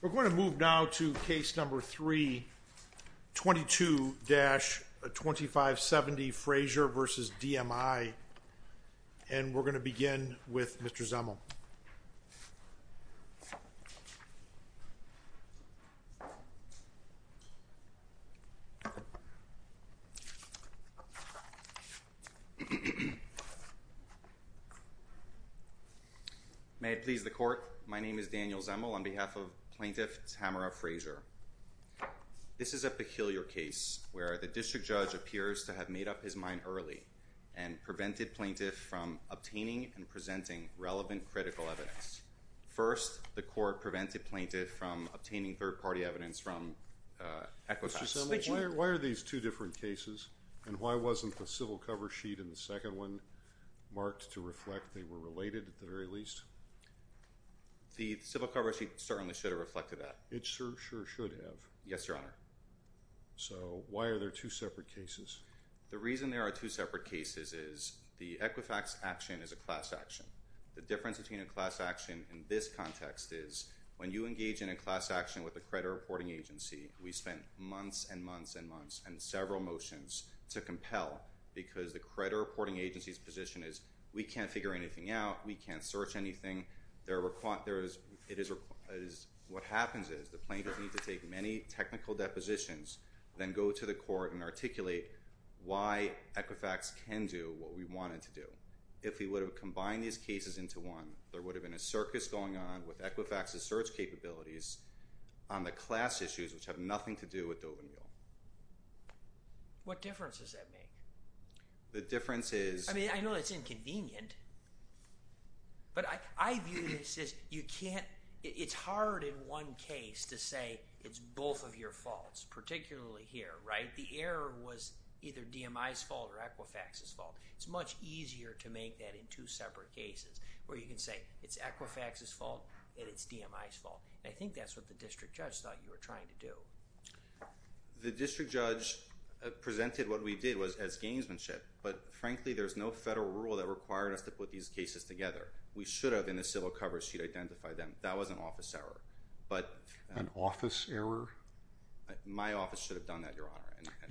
We're going to move now to case number 3, 22-2570 Frazier v. DMI, and we're going to the court. May it please the court, my name is Daniel Zemel. On behalf of Plaintiff Tamara Frazier. This is a peculiar case where the district judge appears to have made up his mind early and prevented plaintiff from obtaining and presenting relevant critical evidence. First, the court prevented plaintiff from obtaining third-party evidence from Equifax. Mr. Zemel, why are these two different cases? And why wasn't the civil cover sheet in the second one marked to reflect they were related at the very least? The civil cover sheet certainly should have reflected that. It sure should have. Yes, Your Honor. So why are there two separate cases? The reason there are two separate cases is the Equifax action is a class action. The difference between a class action in this context is when you engage in a class action with a credit reporting agency, we spend months and months and months and several motions to compel because the credit reporting agency's position is we can't figure anything out, we can't search anything. What happens is the plaintiff needs to take many technical depositions then go to the court and articulate why Equifax can do what we want it to do. If we would have combined these cases into one, there would have been a circus going on with Equifax's search capabilities on the class issues which have nothing to do with Dover Mule. What difference does that make? The difference is... I mean, I know it's inconvenient, but I view this as you can't, it's hard in one case to say it's both of your faults, particularly here, right? The error was either DMI's fault or Equifax's fault. It's much easier to make that in two separate cases where you can say it's Equifax's fault and it's DMI's fault. I think that's what the district judge thought you were trying to do. The district judge presented what we did was as gamesmanship, but frankly, there's no federal rule that required us to put these cases together. We should have in the civil coverage sheet identified them. That was an office error, but... An office error? My office should have done that, Your Honor.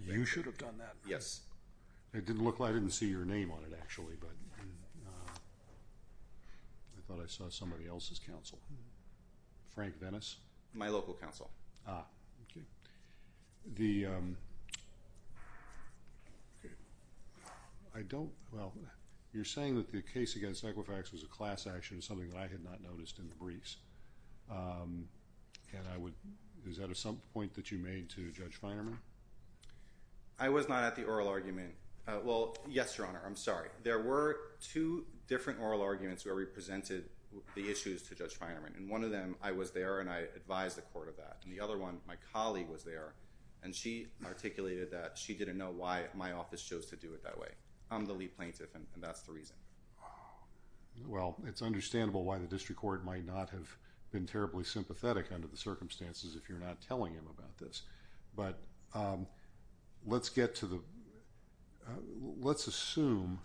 You should have done that? Yes. I didn't see your name on it, actually, but I thought I saw somebody else's counsel. Frank Dennis? My local counsel. Ah, okay. The... I don't, well, you're saying that the case against Equifax was a class action, something that I had not noticed in the briefs, and I would, is that a point that you made to Judge Feinerman? I was not at the oral argument. Well, yes, Your Honor, I'm sorry. There were two different oral arguments where we presented the issues to Judge Feinerman, and one of them, I was there and I advised the court of that, and the other one, my colleague was there, and she articulated that she didn't know why my office chose to do it that way. I'm the lead plaintiff, and that's the reason. Well, it's understandable why the district court might not have been terribly sympathetic under the circumstances if you're not telling them about this, but let's get to the, let's assume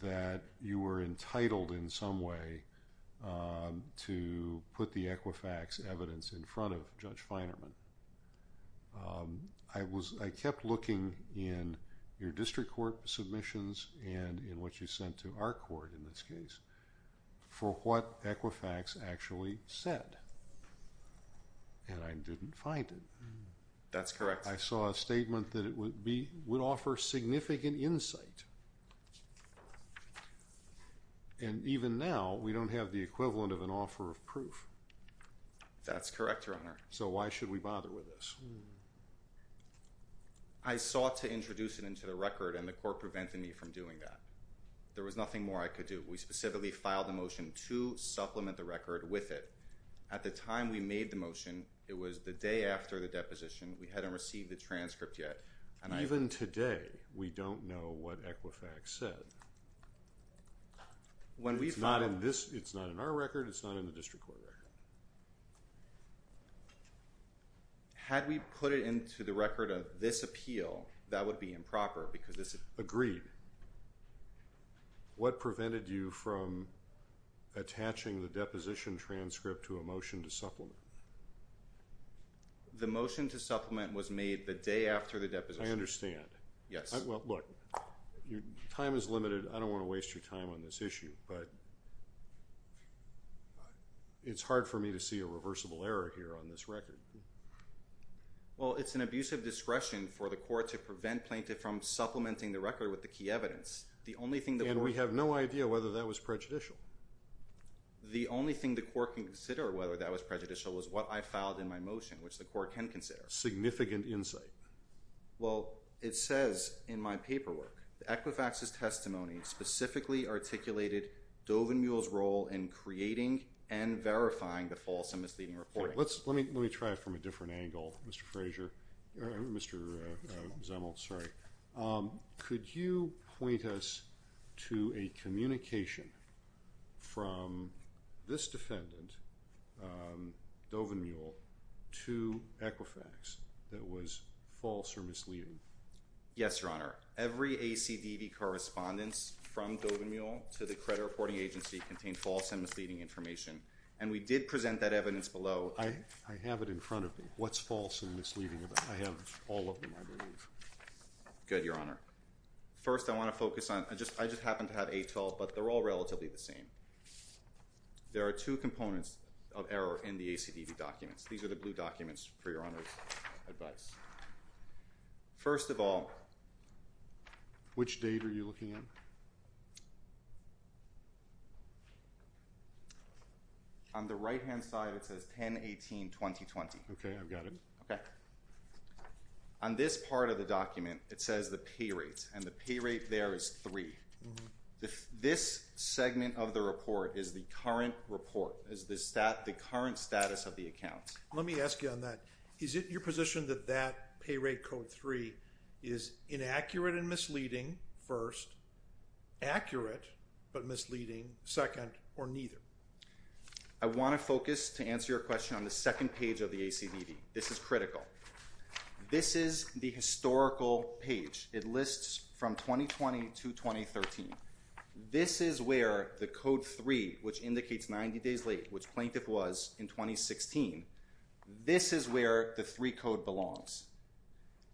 that you were entitled in some way to put the Equifax evidence in front of Judge Feinerman. I was, I kept looking in your district court submissions and in what you sent to our court, in this case, for what Equifax actually said, and I didn't find it. That's correct. I saw a statement that it would offer significant insight, and even now, we don't have the equivalent of an offer of proof. That's correct, Your Honor. So why should we bother with this? I sought to introduce it into the record, and the court prevented me from doing that. There was nothing more I could do. We specifically filed a motion to supplement the record with it. At the time we made the motion, it was the day after the deposition, we hadn't received the transcript yet, and I... Even today, we don't know what Equifax said. When we filed... It's not in this, it's not in our record, it's not in the district court record. Had we put it into the record of this appeal, that would be improper, because this... Agreed. What prevented you from attaching the deposition transcript to a motion to supplement? The motion to supplement was made the day after the deposition. I understand. Yes. Well, look, your time is limited. I don't want to waste your time on this issue, but it's hard for me to see a reversible error here on this record. Well, it's an abuse of discretion for the court to prevent plaintiff from supplementing the record with the key evidence. The only thing that we... And we have no idea whether that was prejudicial. The only thing the court can consider whether that was prejudicial was what I filed in my motion, which the court can consider. Significant insight. Well, it says in my paperwork, the Equifax's testimony specifically articulated Dovenmuehl's role in creating and verifying the false and misleading report. Let's... Let me try it from a different angle, Mr. Frazier, or Mr. Zemel, sorry. Could you point us to a communication from this defendant, Dovenmuehl, to Equifax that was false or misleading? Yes, Your Honor. Every ACDV correspondence from Dovenmuehl to the credit reporting agency contained false and misleading information, and we did present that evidence below. I have it in front of me. What's false and misleading about it? I have all of them, I believe. Good, Your Honor. First, I want to focus on... I just happen to have 812, but they're all relatively the same. There are two components of error in the ACDV documents. These are the blue documents for Your Honor's advice. First of all... Which date are you looking at? On the right-hand side, it says 10-18-2020. Okay, I've got it. Okay. On this part of the document, it says the pay rate, and the pay rate there is 3. This segment of the report is the current report, is the current status of the accounts. Let me ask you on that. Is it your position that that pay rate code 3 is inaccurate and misleading, first, accurate but misleading, second, or neither? I want to focus, to answer your question, on the second page of the ACDV. This is critical. This is the historical page. It lists from 2020 to 2013. This is where the code 3, which indicates 90 days late, which Plaintiff was in 2016. This is where the 3 code belongs.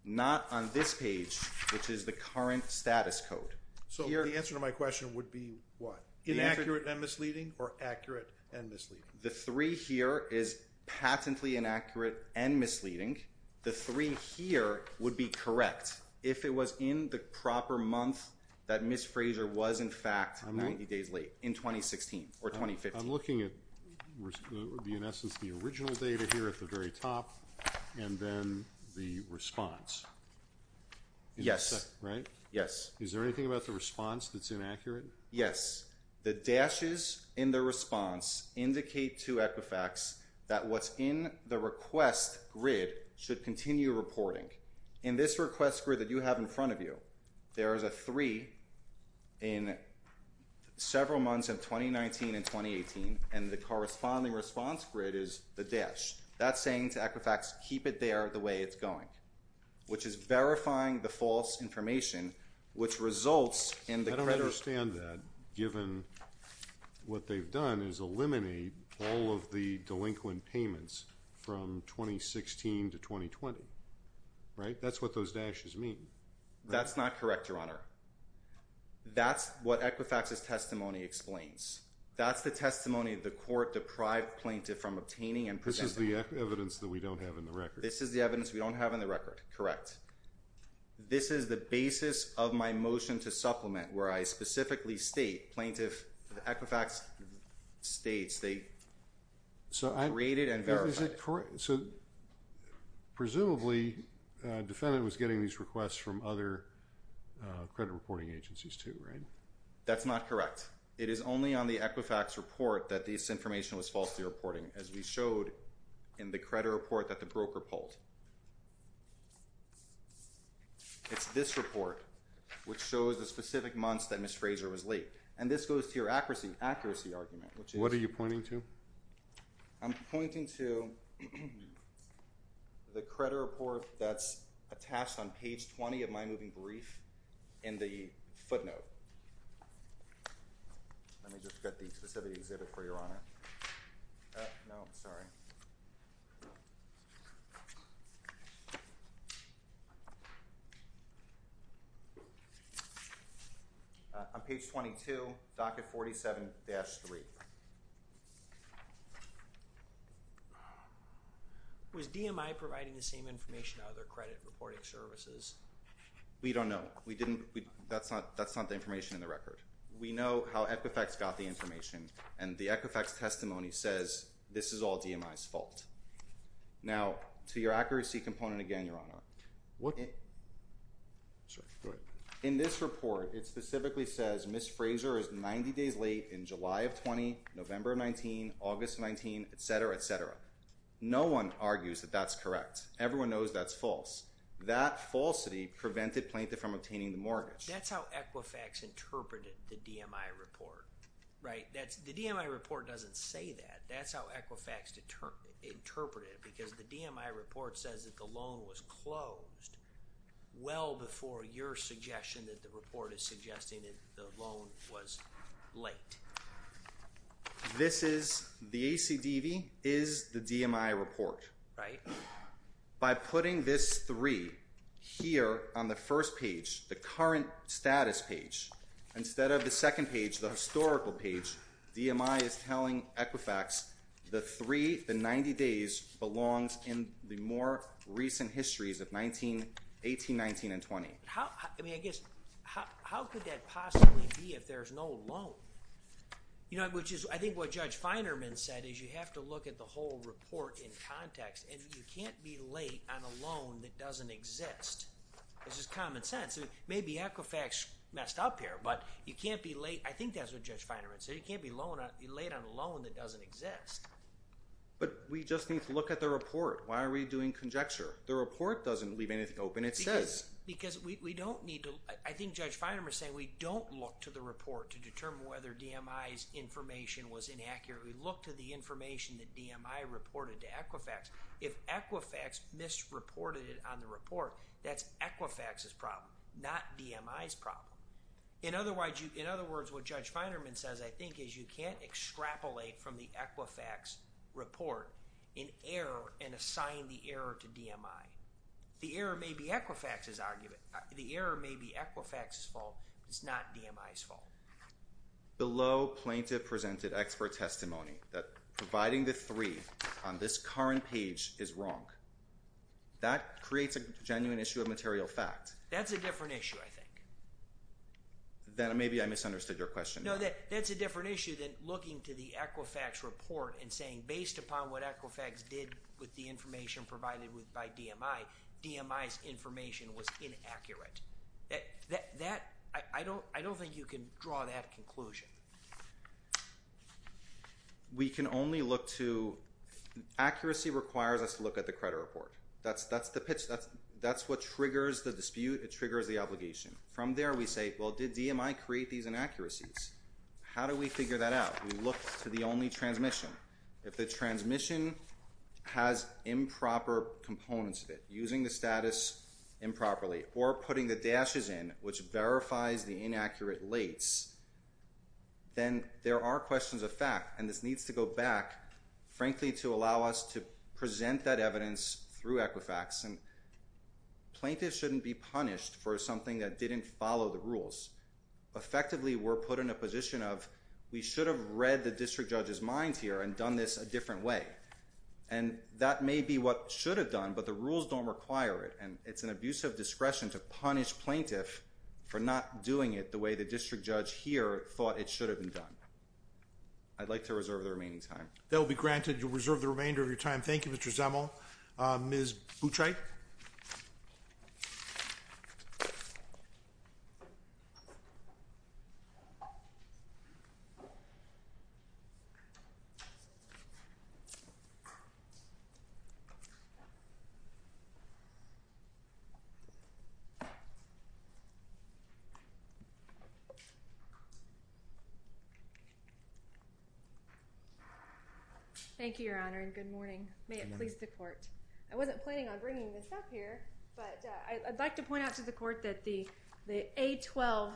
Not on this page, which is the current status code. So the answer to my question would be what? Inaccurate and misleading, or accurate and misleading? The 3 here is patently inaccurate and misleading. The 3 here would be correct. If it was in the proper month that Ms. Fraser was, in fact, 90 days late, in 2016, or 2015. I'm looking at, in essence, the original data here at the very top, and then the response. Yes. Right? Yes. Is there anything about the response that's inaccurate? Yes. The dashes in the response indicate to Equifax that what's in the request grid should continue reporting. In this request grid that you have in front of you, there is a 3 in several months of 2019 and 2018, and the corresponding response grid is the dash. That's saying to Equifax, keep it there the way it's going, which is verifying the false information, which results in the creditors. I understand that, given what they've done is eliminate all of the delinquent payments from 2016 to 2020. Right? That's what those dashes mean. That's not correct, Your Honor. That's what Equifax's testimony explains. That's the testimony of the court deprived plaintiff from obtaining and presenting. This is the evidence that we don't have in the record. This is the evidence we don't have in the record. Correct. This is the basis of my motion to supplement, where I specifically state, the Equifax states they created and verified it. So presumably, defendant was getting these requests from other credit reporting agencies too, right? That's not correct. It is only on the Equifax report that this information was falsely reporting, as we showed in the credit report that the broker pulled. It's this report, which shows the specific months that Ms. Fraser was late. And this goes to your accuracy argument, which is... What are you pointing to? I'm pointing to the credit report that's attached on page 20 of my moving brief in the footnote. Let me just get the specifics in it for Your Honor. No, I'm sorry. On page 22, docket 47-3. Was DMI providing the same information out of their credit reporting services? We don't know. We didn't... That's not the information in the record. We know how Equifax got the information, and the Equifax testimony says this is all DMI's fault. Now, to your accuracy component again, Your Honor. In this report, it specifically says Ms. Fraser is 90 days late in July of 20, November of 19, August of 19, et cetera, et cetera. No one argues that that's correct. Everyone knows that's false. That falsity prevented Plaintiff from obtaining the mortgage. That's how Equifax interpreted the DMI report. Right? The DMI report doesn't say that. That's how Equifax interpreted it, because the DMI report says that the loan was closed well before your suggestion that the report is suggesting that the loan was late. This is... The ACDV is the DMI report. Right. By putting this 3 here on the first page, the current status page, instead of the second page, the historical page, DMI is telling Equifax the 3, the 90 days, belongs in the more recent histories of 19, 18, 19, and 20. How... I mean, I guess, how could that possibly be if there's no loan? You know, which is, I think what Judge Feinerman said is you have to look at the whole report in context, and you can't be late on a loan that doesn't exist. This is common sense. Maybe Equifax messed up here, but you can't be late. I think that's what Judge Feinerman said. You can't be late on a loan that doesn't exist. But we just need to look at the report. Why are we doing conjecture? The report doesn't leave anything open. It says... Because we don't need to... I think Judge Feinerman is saying we don't look to the report to determine whether DMI's information was inaccurate. We look to the information that DMI reported to Equifax. If Equifax misreported it on the report, that's Equifax's problem, not DMI's problem. In other words, what Judge Feinerman says, I think, is you can't extrapolate from the Equifax report in error and assign the error to DMI. The error may be Equifax's argument. The error may be Equifax's fault. It's not DMI's fault. The low plaintiff presented expert testimony that providing the three on this current page is wrong. That creates a genuine issue of material fact. That's a different issue, I think. Then maybe I misunderstood your question. No, that's a different issue than looking to the Equifax report and saying based upon what Equifax did with the information provided by DMI, DMI's information was inaccurate. I don't think you can draw that conclusion. We can only look to—accuracy requires us to look at the credit report. That's the pitch. That's what triggers the dispute. It triggers the obligation. From there, we say, well, did DMI create these inaccuracies? How do we figure that out? We look to the only transmission. If the transmission has improper components of it, using the status improperly or putting the dashes in, which verifies the inaccurate lates, then there are questions of fact. This needs to go back, frankly, to allow us to present that evidence through Equifax. Plaintiffs shouldn't be punished for something that didn't follow the rules. Effectively, we're put in a position of we should have read the district judge's mind here and done this a different way. That may be what should have done, but the rules don't require it. It's an abuse of discretion to punish plaintiff for not doing it the way the district judge here thought it should have been done. I'd like to reserve the remaining time. That will be granted. You'll reserve the remainder of your time. Thank you, Mr. Zemel. Ms. Boutre? Thank you, Your Honor, and good morning. May it please the court. I wasn't planning on bringing this up here, but I'd like to point out to the court that the A12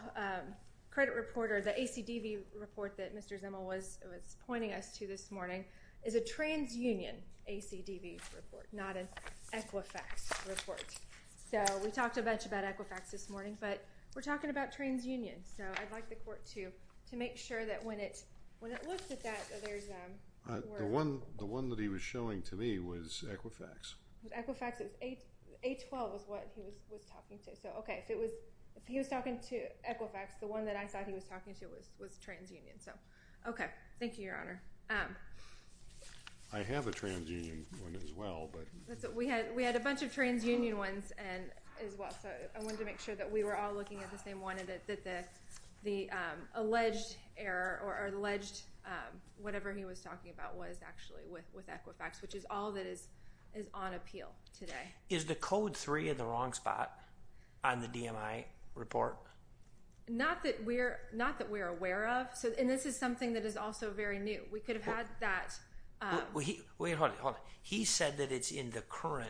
credit report or the ACDV report that Mr. Zemel was pointing us to this morning is a TransUnion ACDV report, not an Equifax report. We talked a bunch about Equifax this morning, but we're talking about TransUnion. I'd like the court to make sure that when it looks at that, there's... The one that he was showing to me was Equifax. Equifax. A12 is what he was talking to. If he was talking to Equifax, the one that I thought he was talking to was TransUnion. Okay. Thank you, Your Honor. I have a TransUnion one as well, but... We had a bunch of TransUnion ones as well, so I wanted to make sure that we were all looking at the same one and that the alleged error or alleged whatever he was talking about was actually with Equifax, which is all that is on appeal today. Is the Code 3 in the wrong spot on the DMI report? Not that we're aware of, and this is something that is also very new. We could have had that... Wait, hold it, hold it. He said that it's in the current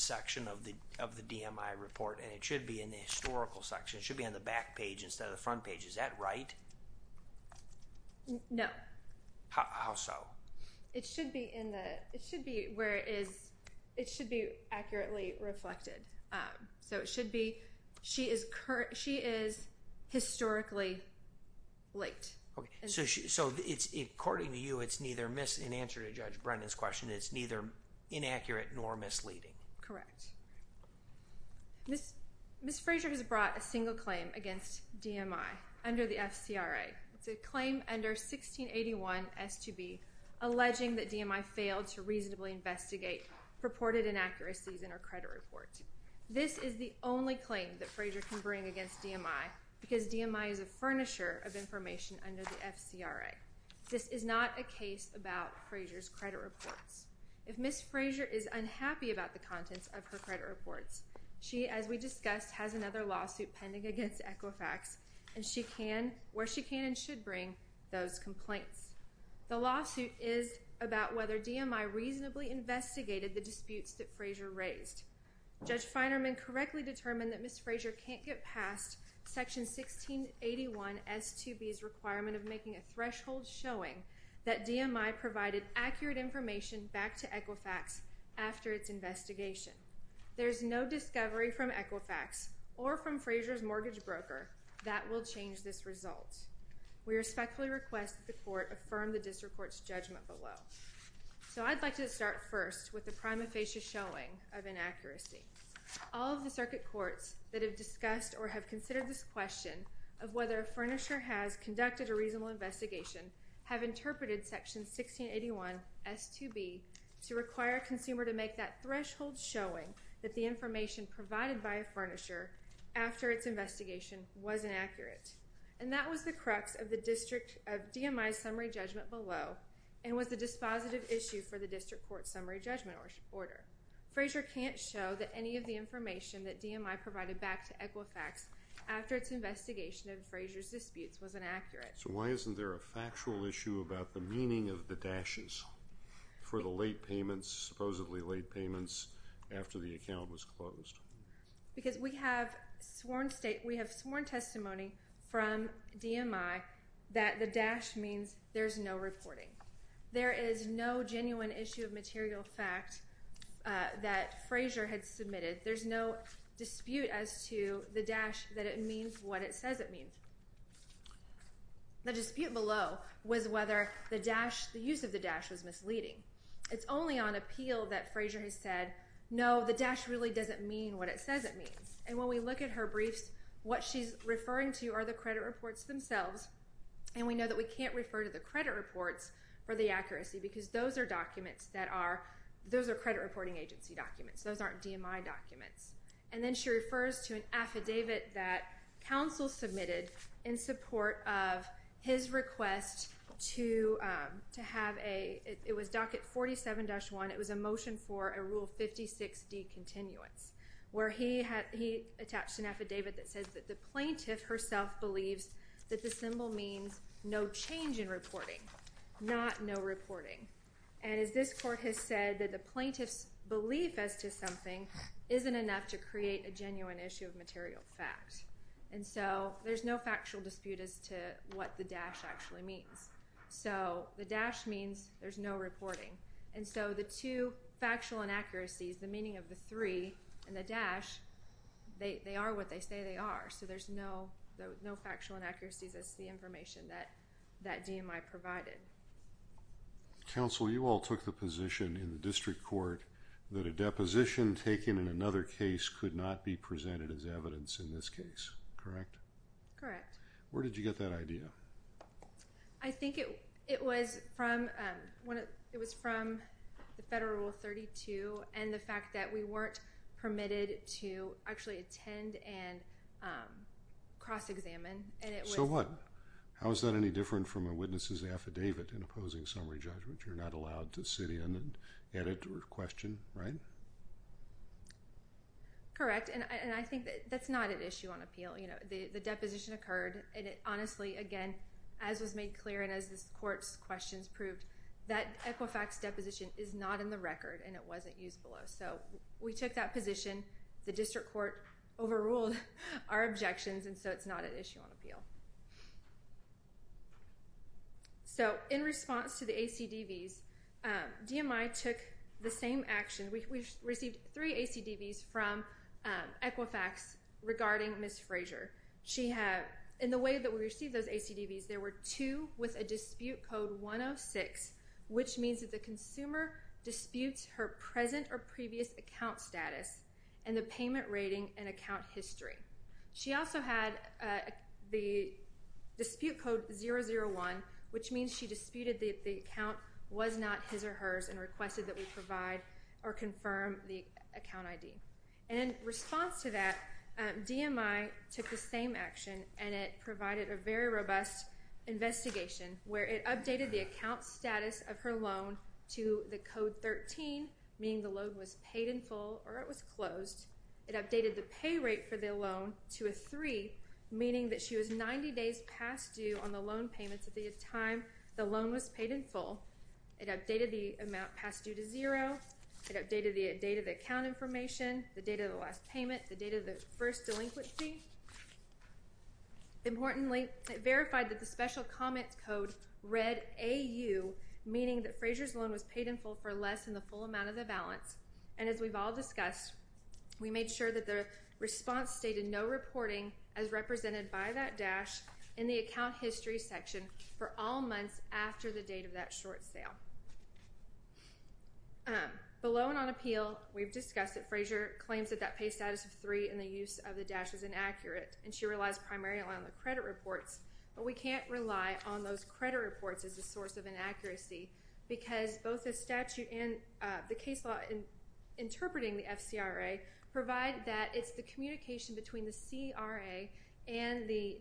section of the DMI report, and it should be in the historical section. It should be on the back page instead of the front page. Is that right? No. How so? It should be where it is... It should be accurately reflected. So, it should be... She is historically late. Okay. So, according to you, it's neither... In answer to Judge Brennan's question, it's neither inaccurate nor misleading. Correct. Ms. Frazier has brought a single claim against DMI under the FCRA. It's a claim under 1681 S2B alleging that DMI failed to reasonably investigate purported inaccuracies in her credit report. This is the only claim that Frazier can bring against DMI because DMI is a furnisher of information under the FCRA. This is not a case about Frazier's credit reports. If Ms. Frazier is unhappy about the contents of her credit reports, she, as we discussed, has another lawsuit pending against Equifax, and she can, where she can and should bring, those complaints. The lawsuit is about whether DMI reasonably investigated the disputes that Frazier raised. Judge Feinerman correctly determined that Ms. Frazier can't get past Section 1681 S2B's requirement of making a threshold showing that DMI provided accurate information back to Equifax after its investigation. There's no discovery from Equifax or from Frazier's mortgage broker that will change this result. We respectfully request the court affirm the district court's judgment below. So I'd like to start first with the prima facie showing of inaccuracy. All of the circuit courts that have discussed or have considered this question of whether a furnisher has conducted a reasonable investigation have interpreted Section 1681 S2B to require a consumer to make that threshold showing that the information provided by a furnisher after its investigation was inaccurate. And that was the crux of DMI's summary judgment below and was the dispositive issue for the district court's summary judgment order. Frazier can't show that any of the information that DMI provided back to Equifax after its investigation of Frazier's disputes was inaccurate. So why isn't there a factual issue about the meaning of the dashes for the late payments, supposedly late payments, after the account was closed? Because we have sworn testimony from DMI that the dash means there's no reporting. There is no genuine issue of material fact that Frazier had submitted. There's no dispute as to the dash that it means what it says it means. The dispute below was whether the use of the dash was misleading. It's only on appeal that Frazier has said, no, the dash really doesn't mean what it says it means. And when we look at her briefs, what she's referring to are the credit reports themselves. And we know that we can't refer to the credit reports for the accuracy because those are credit reporting agency documents. Those aren't DMI documents. And then she refers to an affidavit that counsel submitted in support of his request to have a, it was Docket 47-1, it was a motion for a Rule 56 decontinuance, where he attached an affidavit that says that the plaintiff herself believes that the symbol means no change in reporting, not no reporting. And as this court has said, that the plaintiff's belief as to something isn't enough to create a genuine issue of material fact. And so there's no factual dispute as to what the dash actually means. So the dash means there's no reporting. And so the two factual inaccuracies, the meaning of the three and the dash, they are what they say they are. So there's no factual inaccuracies as to the information that DMI provided. Counsel, you all took the position in the district court that a deposition taken in another case could not be presented as evidence in this case, correct? Correct. Where did you get that idea? I think it was from the Federal Rule 32 and the fact that we weren't permitted to actually attend and cross-examine. So what? How is that any different from a witness's affidavit in opposing summary judgment? You're not allowed to sit in and edit or question, right? Correct. And I think that's not an issue on appeal. The deposition occurred and it honestly, again, as was made clear and as this court's questions proved, that Equifax deposition is not in the record and it wasn't used below. So we took that position. The district court overruled our objections and so it's not an issue on appeal. So in response to the ACDVs, DMI took the same action. We received three ACDVs from Equifax regarding Ms. Frazier. In the way that we received those ACDVs, there were two with a dispute code 106, which means that the consumer disputes her present or previous account status and the payment rating and account history. She also had the dispute code 001, which means she disputed that the account was not his or hers and requested that we provide or confirm the account ID. And in response to that, DMI took the same action and it provided a very robust investigation where it updated the account status of her loan to the code 13, meaning the loan was paid in full or it was closed. It updated the pay rate for the loan to a three, meaning that she was 90 days past due on the loan payments at the time the loan was paid in full. It updated the amount past due to zero. It updated the date of the account information, the date of the last payment, the date of the first delinquency. Importantly, it verified that the special comment code read AU, meaning that Frazier's loan was paid in full for less than the full amount of the balance. And as we've all discussed, we made sure that the response stated no reporting as represented by that dash in the account history section for all months after the date of that short sale. Below and on appeal, we've discussed that Frazier claims that that pay status of three and the use of the dash is inaccurate and she relies primarily on the credit reports, but we can't rely on those credit reports as a source of inaccuracy because both the statute and the case law interpreting the FCRA provide that it's the communication between the CRA and the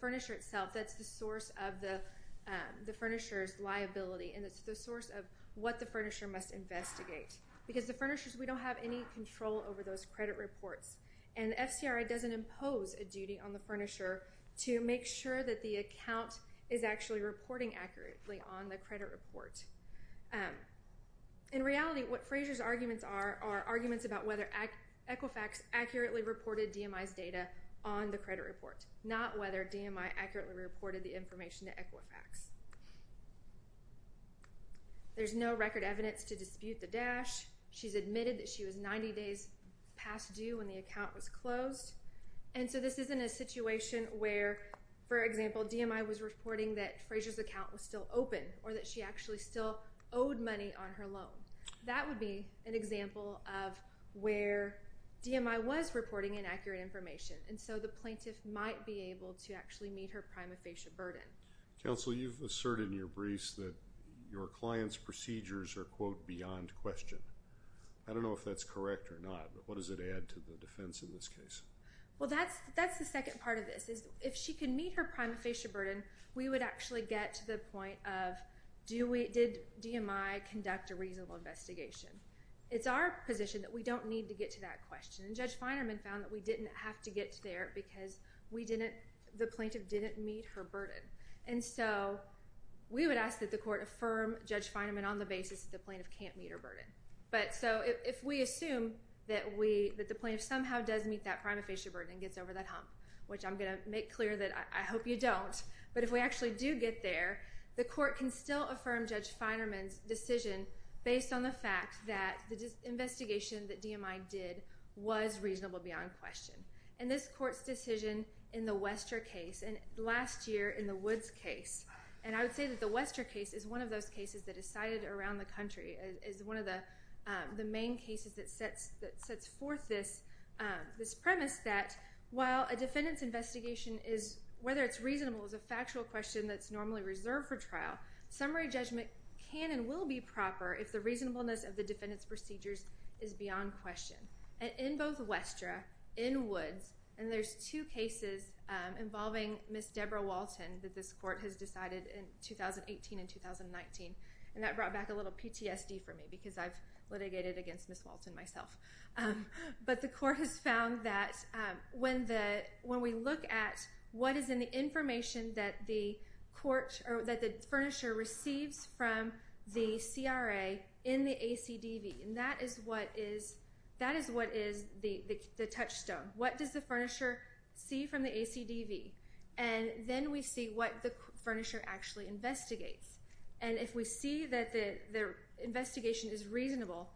furnisher itself that's the source of the furnisher's liability and it's the source of what the furnisher must investigate. Because the furnishers, we don't have any control over those credit reports. And the FCRA doesn't impose a duty on the furnisher to make sure that the account is actually reporting accurately on the credit report. In reality, what Frazier's arguments are, are arguments about whether Equifax accurately reported DMI's data on the credit report, not whether DMI accurately reported the information to Equifax. There's no record evidence to dispute the dash. She's admitted that she was 90 days past due when the account was closed. And so this isn't a situation where, for example, DMI was reporting that Frazier's account was still open or that she actually still owed money on her loan. That would be an example of where DMI was reporting inaccurate information. And so the plaintiff might be able to actually meet her prima facie burden. Counsel, you've asserted in your briefs that your client's procedures are, quote, beyond question. I don't know if that's correct or not, but what does it add to the defense in this case? Well, that's the second part of this. If she can meet her prima facie burden, we would actually get to the point of, did DMI conduct a reasonable investigation? It's our position that we don't need to get to that question. And Judge Feinerman found that we didn't have to get there because the plaintiff didn't meet her burden. And so we would ask that the court affirm Judge Feinerman on the basis that the plaintiff can't meet her burden. So if we assume that the plaintiff somehow does meet that prima facie burden and gets over that hump, which I'm going to make clear that I hope you don't, but if we actually do get there, the court can still affirm Judge Feinerman's decision based on the fact that the investigation that DMI did was reasonable beyond question. And this court's decision in the Wester case, and last year in the Woods case, and I would say that the Wester case is one of those cases that is cited around the country, is one of the main cases that sets forth this premise that while a defendant's investigation, whether it's reasonable is a factual question that's normally reserved for trial, summary judgment can and will be proper if the reasonableness of the defendant's procedures is beyond question. And in both Wester, in Woods, and there's two cases involving Ms. Deborah Walton that this court has decided in 2018 and 2019, and that brought back a little PTSD for me because I've litigated against Ms. Walton myself. But the court has found that when we look at what is in the information that the court, that the furnisher receives from the CRA in the ACDV, and that is what is the touchstone. What does the furnisher see from the ACDV? And then we see what the furnisher actually investigates. And if we see that the investigation is reasonable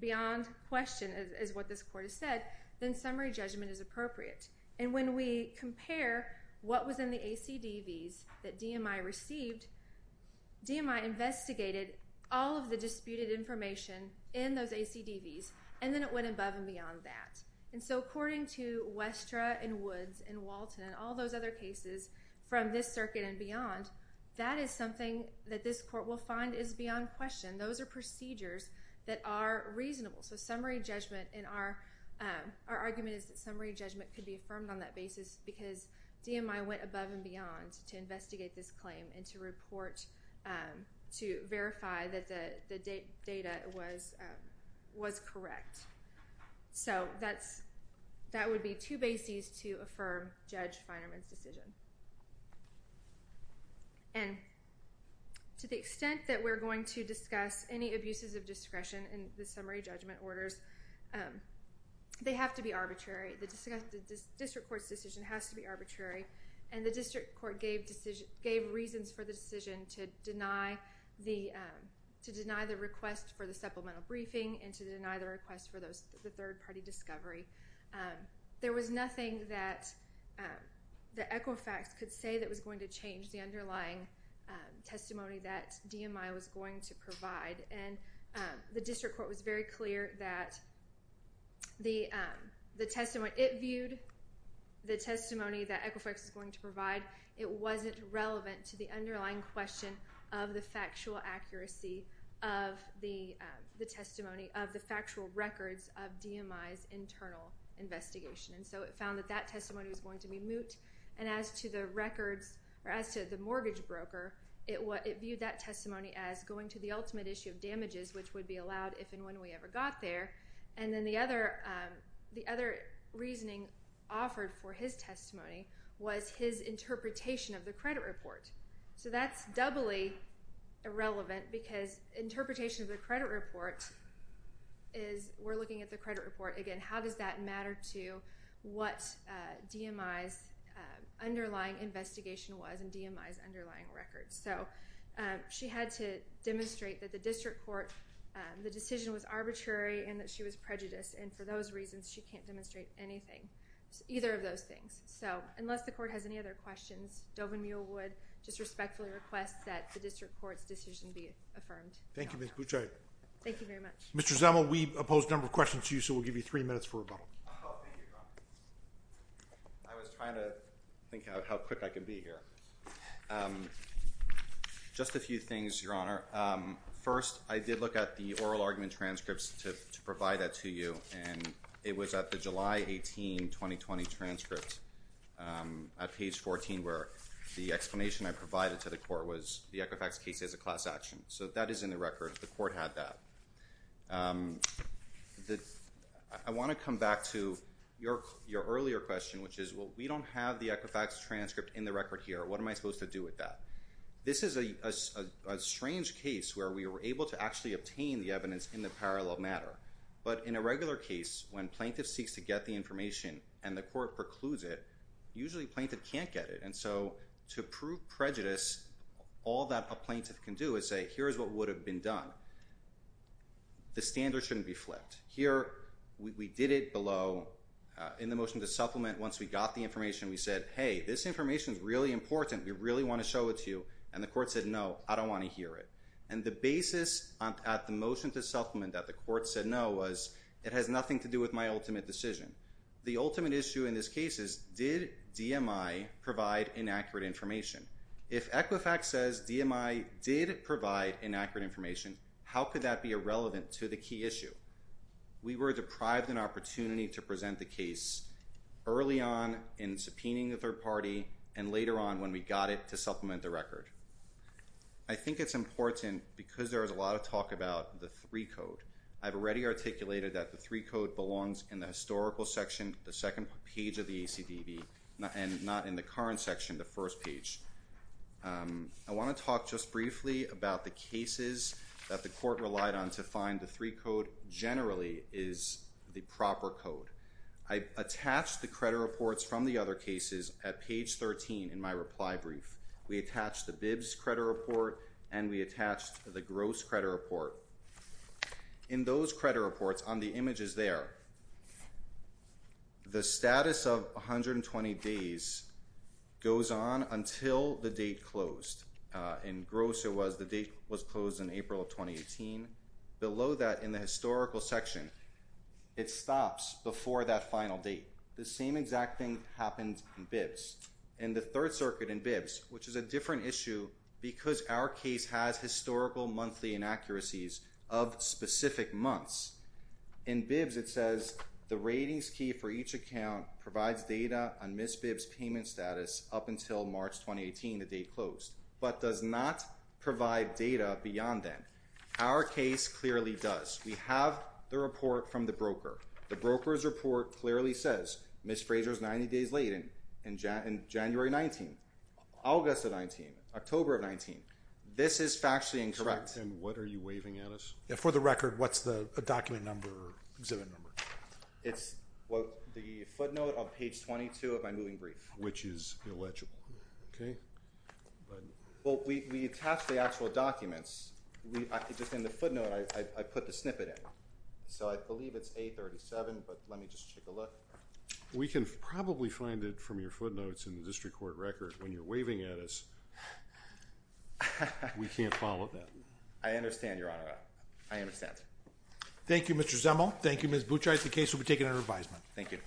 beyond question, as what this court has said, then summary judgment is appropriate. And when we compare what was in the ACDVs that DMI received, DMI investigated all of the disputed information in those ACDVs, and then it went above and beyond that. And so according to Wester, and Woods, and Walton, and all those other cases from this circuit and beyond, that is something that this court will find is beyond question. Those are procedures that are reasonable. So summary judgment, and our argument is that summary judgment could be affirmed on that basis because DMI went above and beyond to investigate this claim and to report, to verify that the data was correct. So that would be two bases to affirm Judge Feierman's decision. And to the extent that we're going to discuss any abuses of discretion in the summary judgment orders, they have to be arbitrary. The district court's decision has to be arbitrary, and the district court gave reasons for the decision to deny the request for the supplemental briefing, and to deny the request for the third-party discovery. There was nothing that the Equifax could say that was going to change the underlying testimony that DMI was going to provide. And the district court was very clear that the testimony it viewed, the testimony that Equifax was going to provide, it wasn't relevant to the underlying question of the factual accuracy of the testimony, of the factual records of DMI's internal investigation. And so it found that that testimony was going to be moot. And as to the records, or as to the mortgage broker, it viewed that testimony as going to the ultimate issue of damages, which would be allowed if and when we ever got there. And then the other reasoning offered for his testimony was his interpretation of the credit report. So that's doubly irrelevant, because interpretation of the credit report is, we're looking at the credit report again, how does that matter to what DMI's underlying investigation was, and DMI's underlying records. So she had to demonstrate that the district court, the decision was arbitrary, and that she was prejudiced. And for those reasons, she can't demonstrate anything, either of those things. So unless the court has any other questions, Dovan Mule would just respectfully request that the district court's decision be affirmed. Thank you, Ms. Buchheit. Thank you very much. Mr. Zemel, we've opposed a number of questions to you, so we'll give you three minutes for rebuttal. Oh, thank you, Your Honor. I was trying to think how quick I could be here. Just a few things, Your Honor. First, I did look at the oral argument transcripts to provide that to you, and it was at the July 18, 2020 transcript, at page 14, where the explanation I provided to the court was the Equifax case is a class action. So that is in the record. The court had that. I want to come back to your earlier question, which is, well, we don't have the Equifax transcript in the record here. What am I supposed to do with that? This is a strange case, where we were able to actually obtain the evidence in the parallel matter. But in a regular case, when plaintiff seeks to get the information and the court precludes it, usually plaintiff can't get it. And so to prove prejudice, all that a plaintiff can do is say, here is what would have been done. The standard shouldn't be flipped. Here, we did it below. In the motion to supplement, once we got the information, we said, hey, this information is really important. We really want to show it to you. And the court said, no, I don't want to hear it. And the basis at the motion to supplement that the court said no was, it has nothing to do with my ultimate decision. The ultimate issue in this case is, did DMI provide inaccurate information? If Equifax says DMI did provide inaccurate information, how could that be irrelevant to the key issue? We were deprived an opportunity to present the case early on in subpoenaing the third party and later on when we got it to supplement the record. I think it's important because there is a lot of talk about the three code. I've already articulated that the three code belongs in the historical section, the second page of the ACDB, and not in the current section, the first page. I want to talk just briefly about the cases that the court relied on to find the three code generally is the proper code. I attached the credit reports from the other cases at page 13 in my reply brief. We attached the BIBS credit report and we attached the Gross credit report. In those credit reports, on the images there, the status of 120 days goes on until the date closed. In Gross, the date was closed in April of 2018. Below that, in the historical section, it stops before that final date. The same exact thing happens in BIBS. In the third circuit in BIBS, which is a different issue because our case has historical monthly inaccuracies of specific months. In BIBS, it says the ratings key for each account provides data on Ms. BIBS' payment status up until March 2018, the date closed, but does not provide data beyond then. Our case clearly does. We have the report from the broker. The broker's report clearly says Ms. Fraser is 90 days late in January 19, August of 19, October of 19. This is factually incorrect. And what are you waving at us? For the record, what's the document number or exhibit number? It's the footnote on page 22 of my moving brief. Which is illegible. We attached the actual documents. Just in the footnote, I put the snippet in. So I believe it's A-37, but let me just take a look. We can probably find it from your footnotes in the district court record when you're waving at us. We can't follow that. I understand, Your Honor. I understand. Thank you, Mr. Zemo. Thank you, Ms. Bouchard. The case will be taken under advisement. Thank you. Thank you.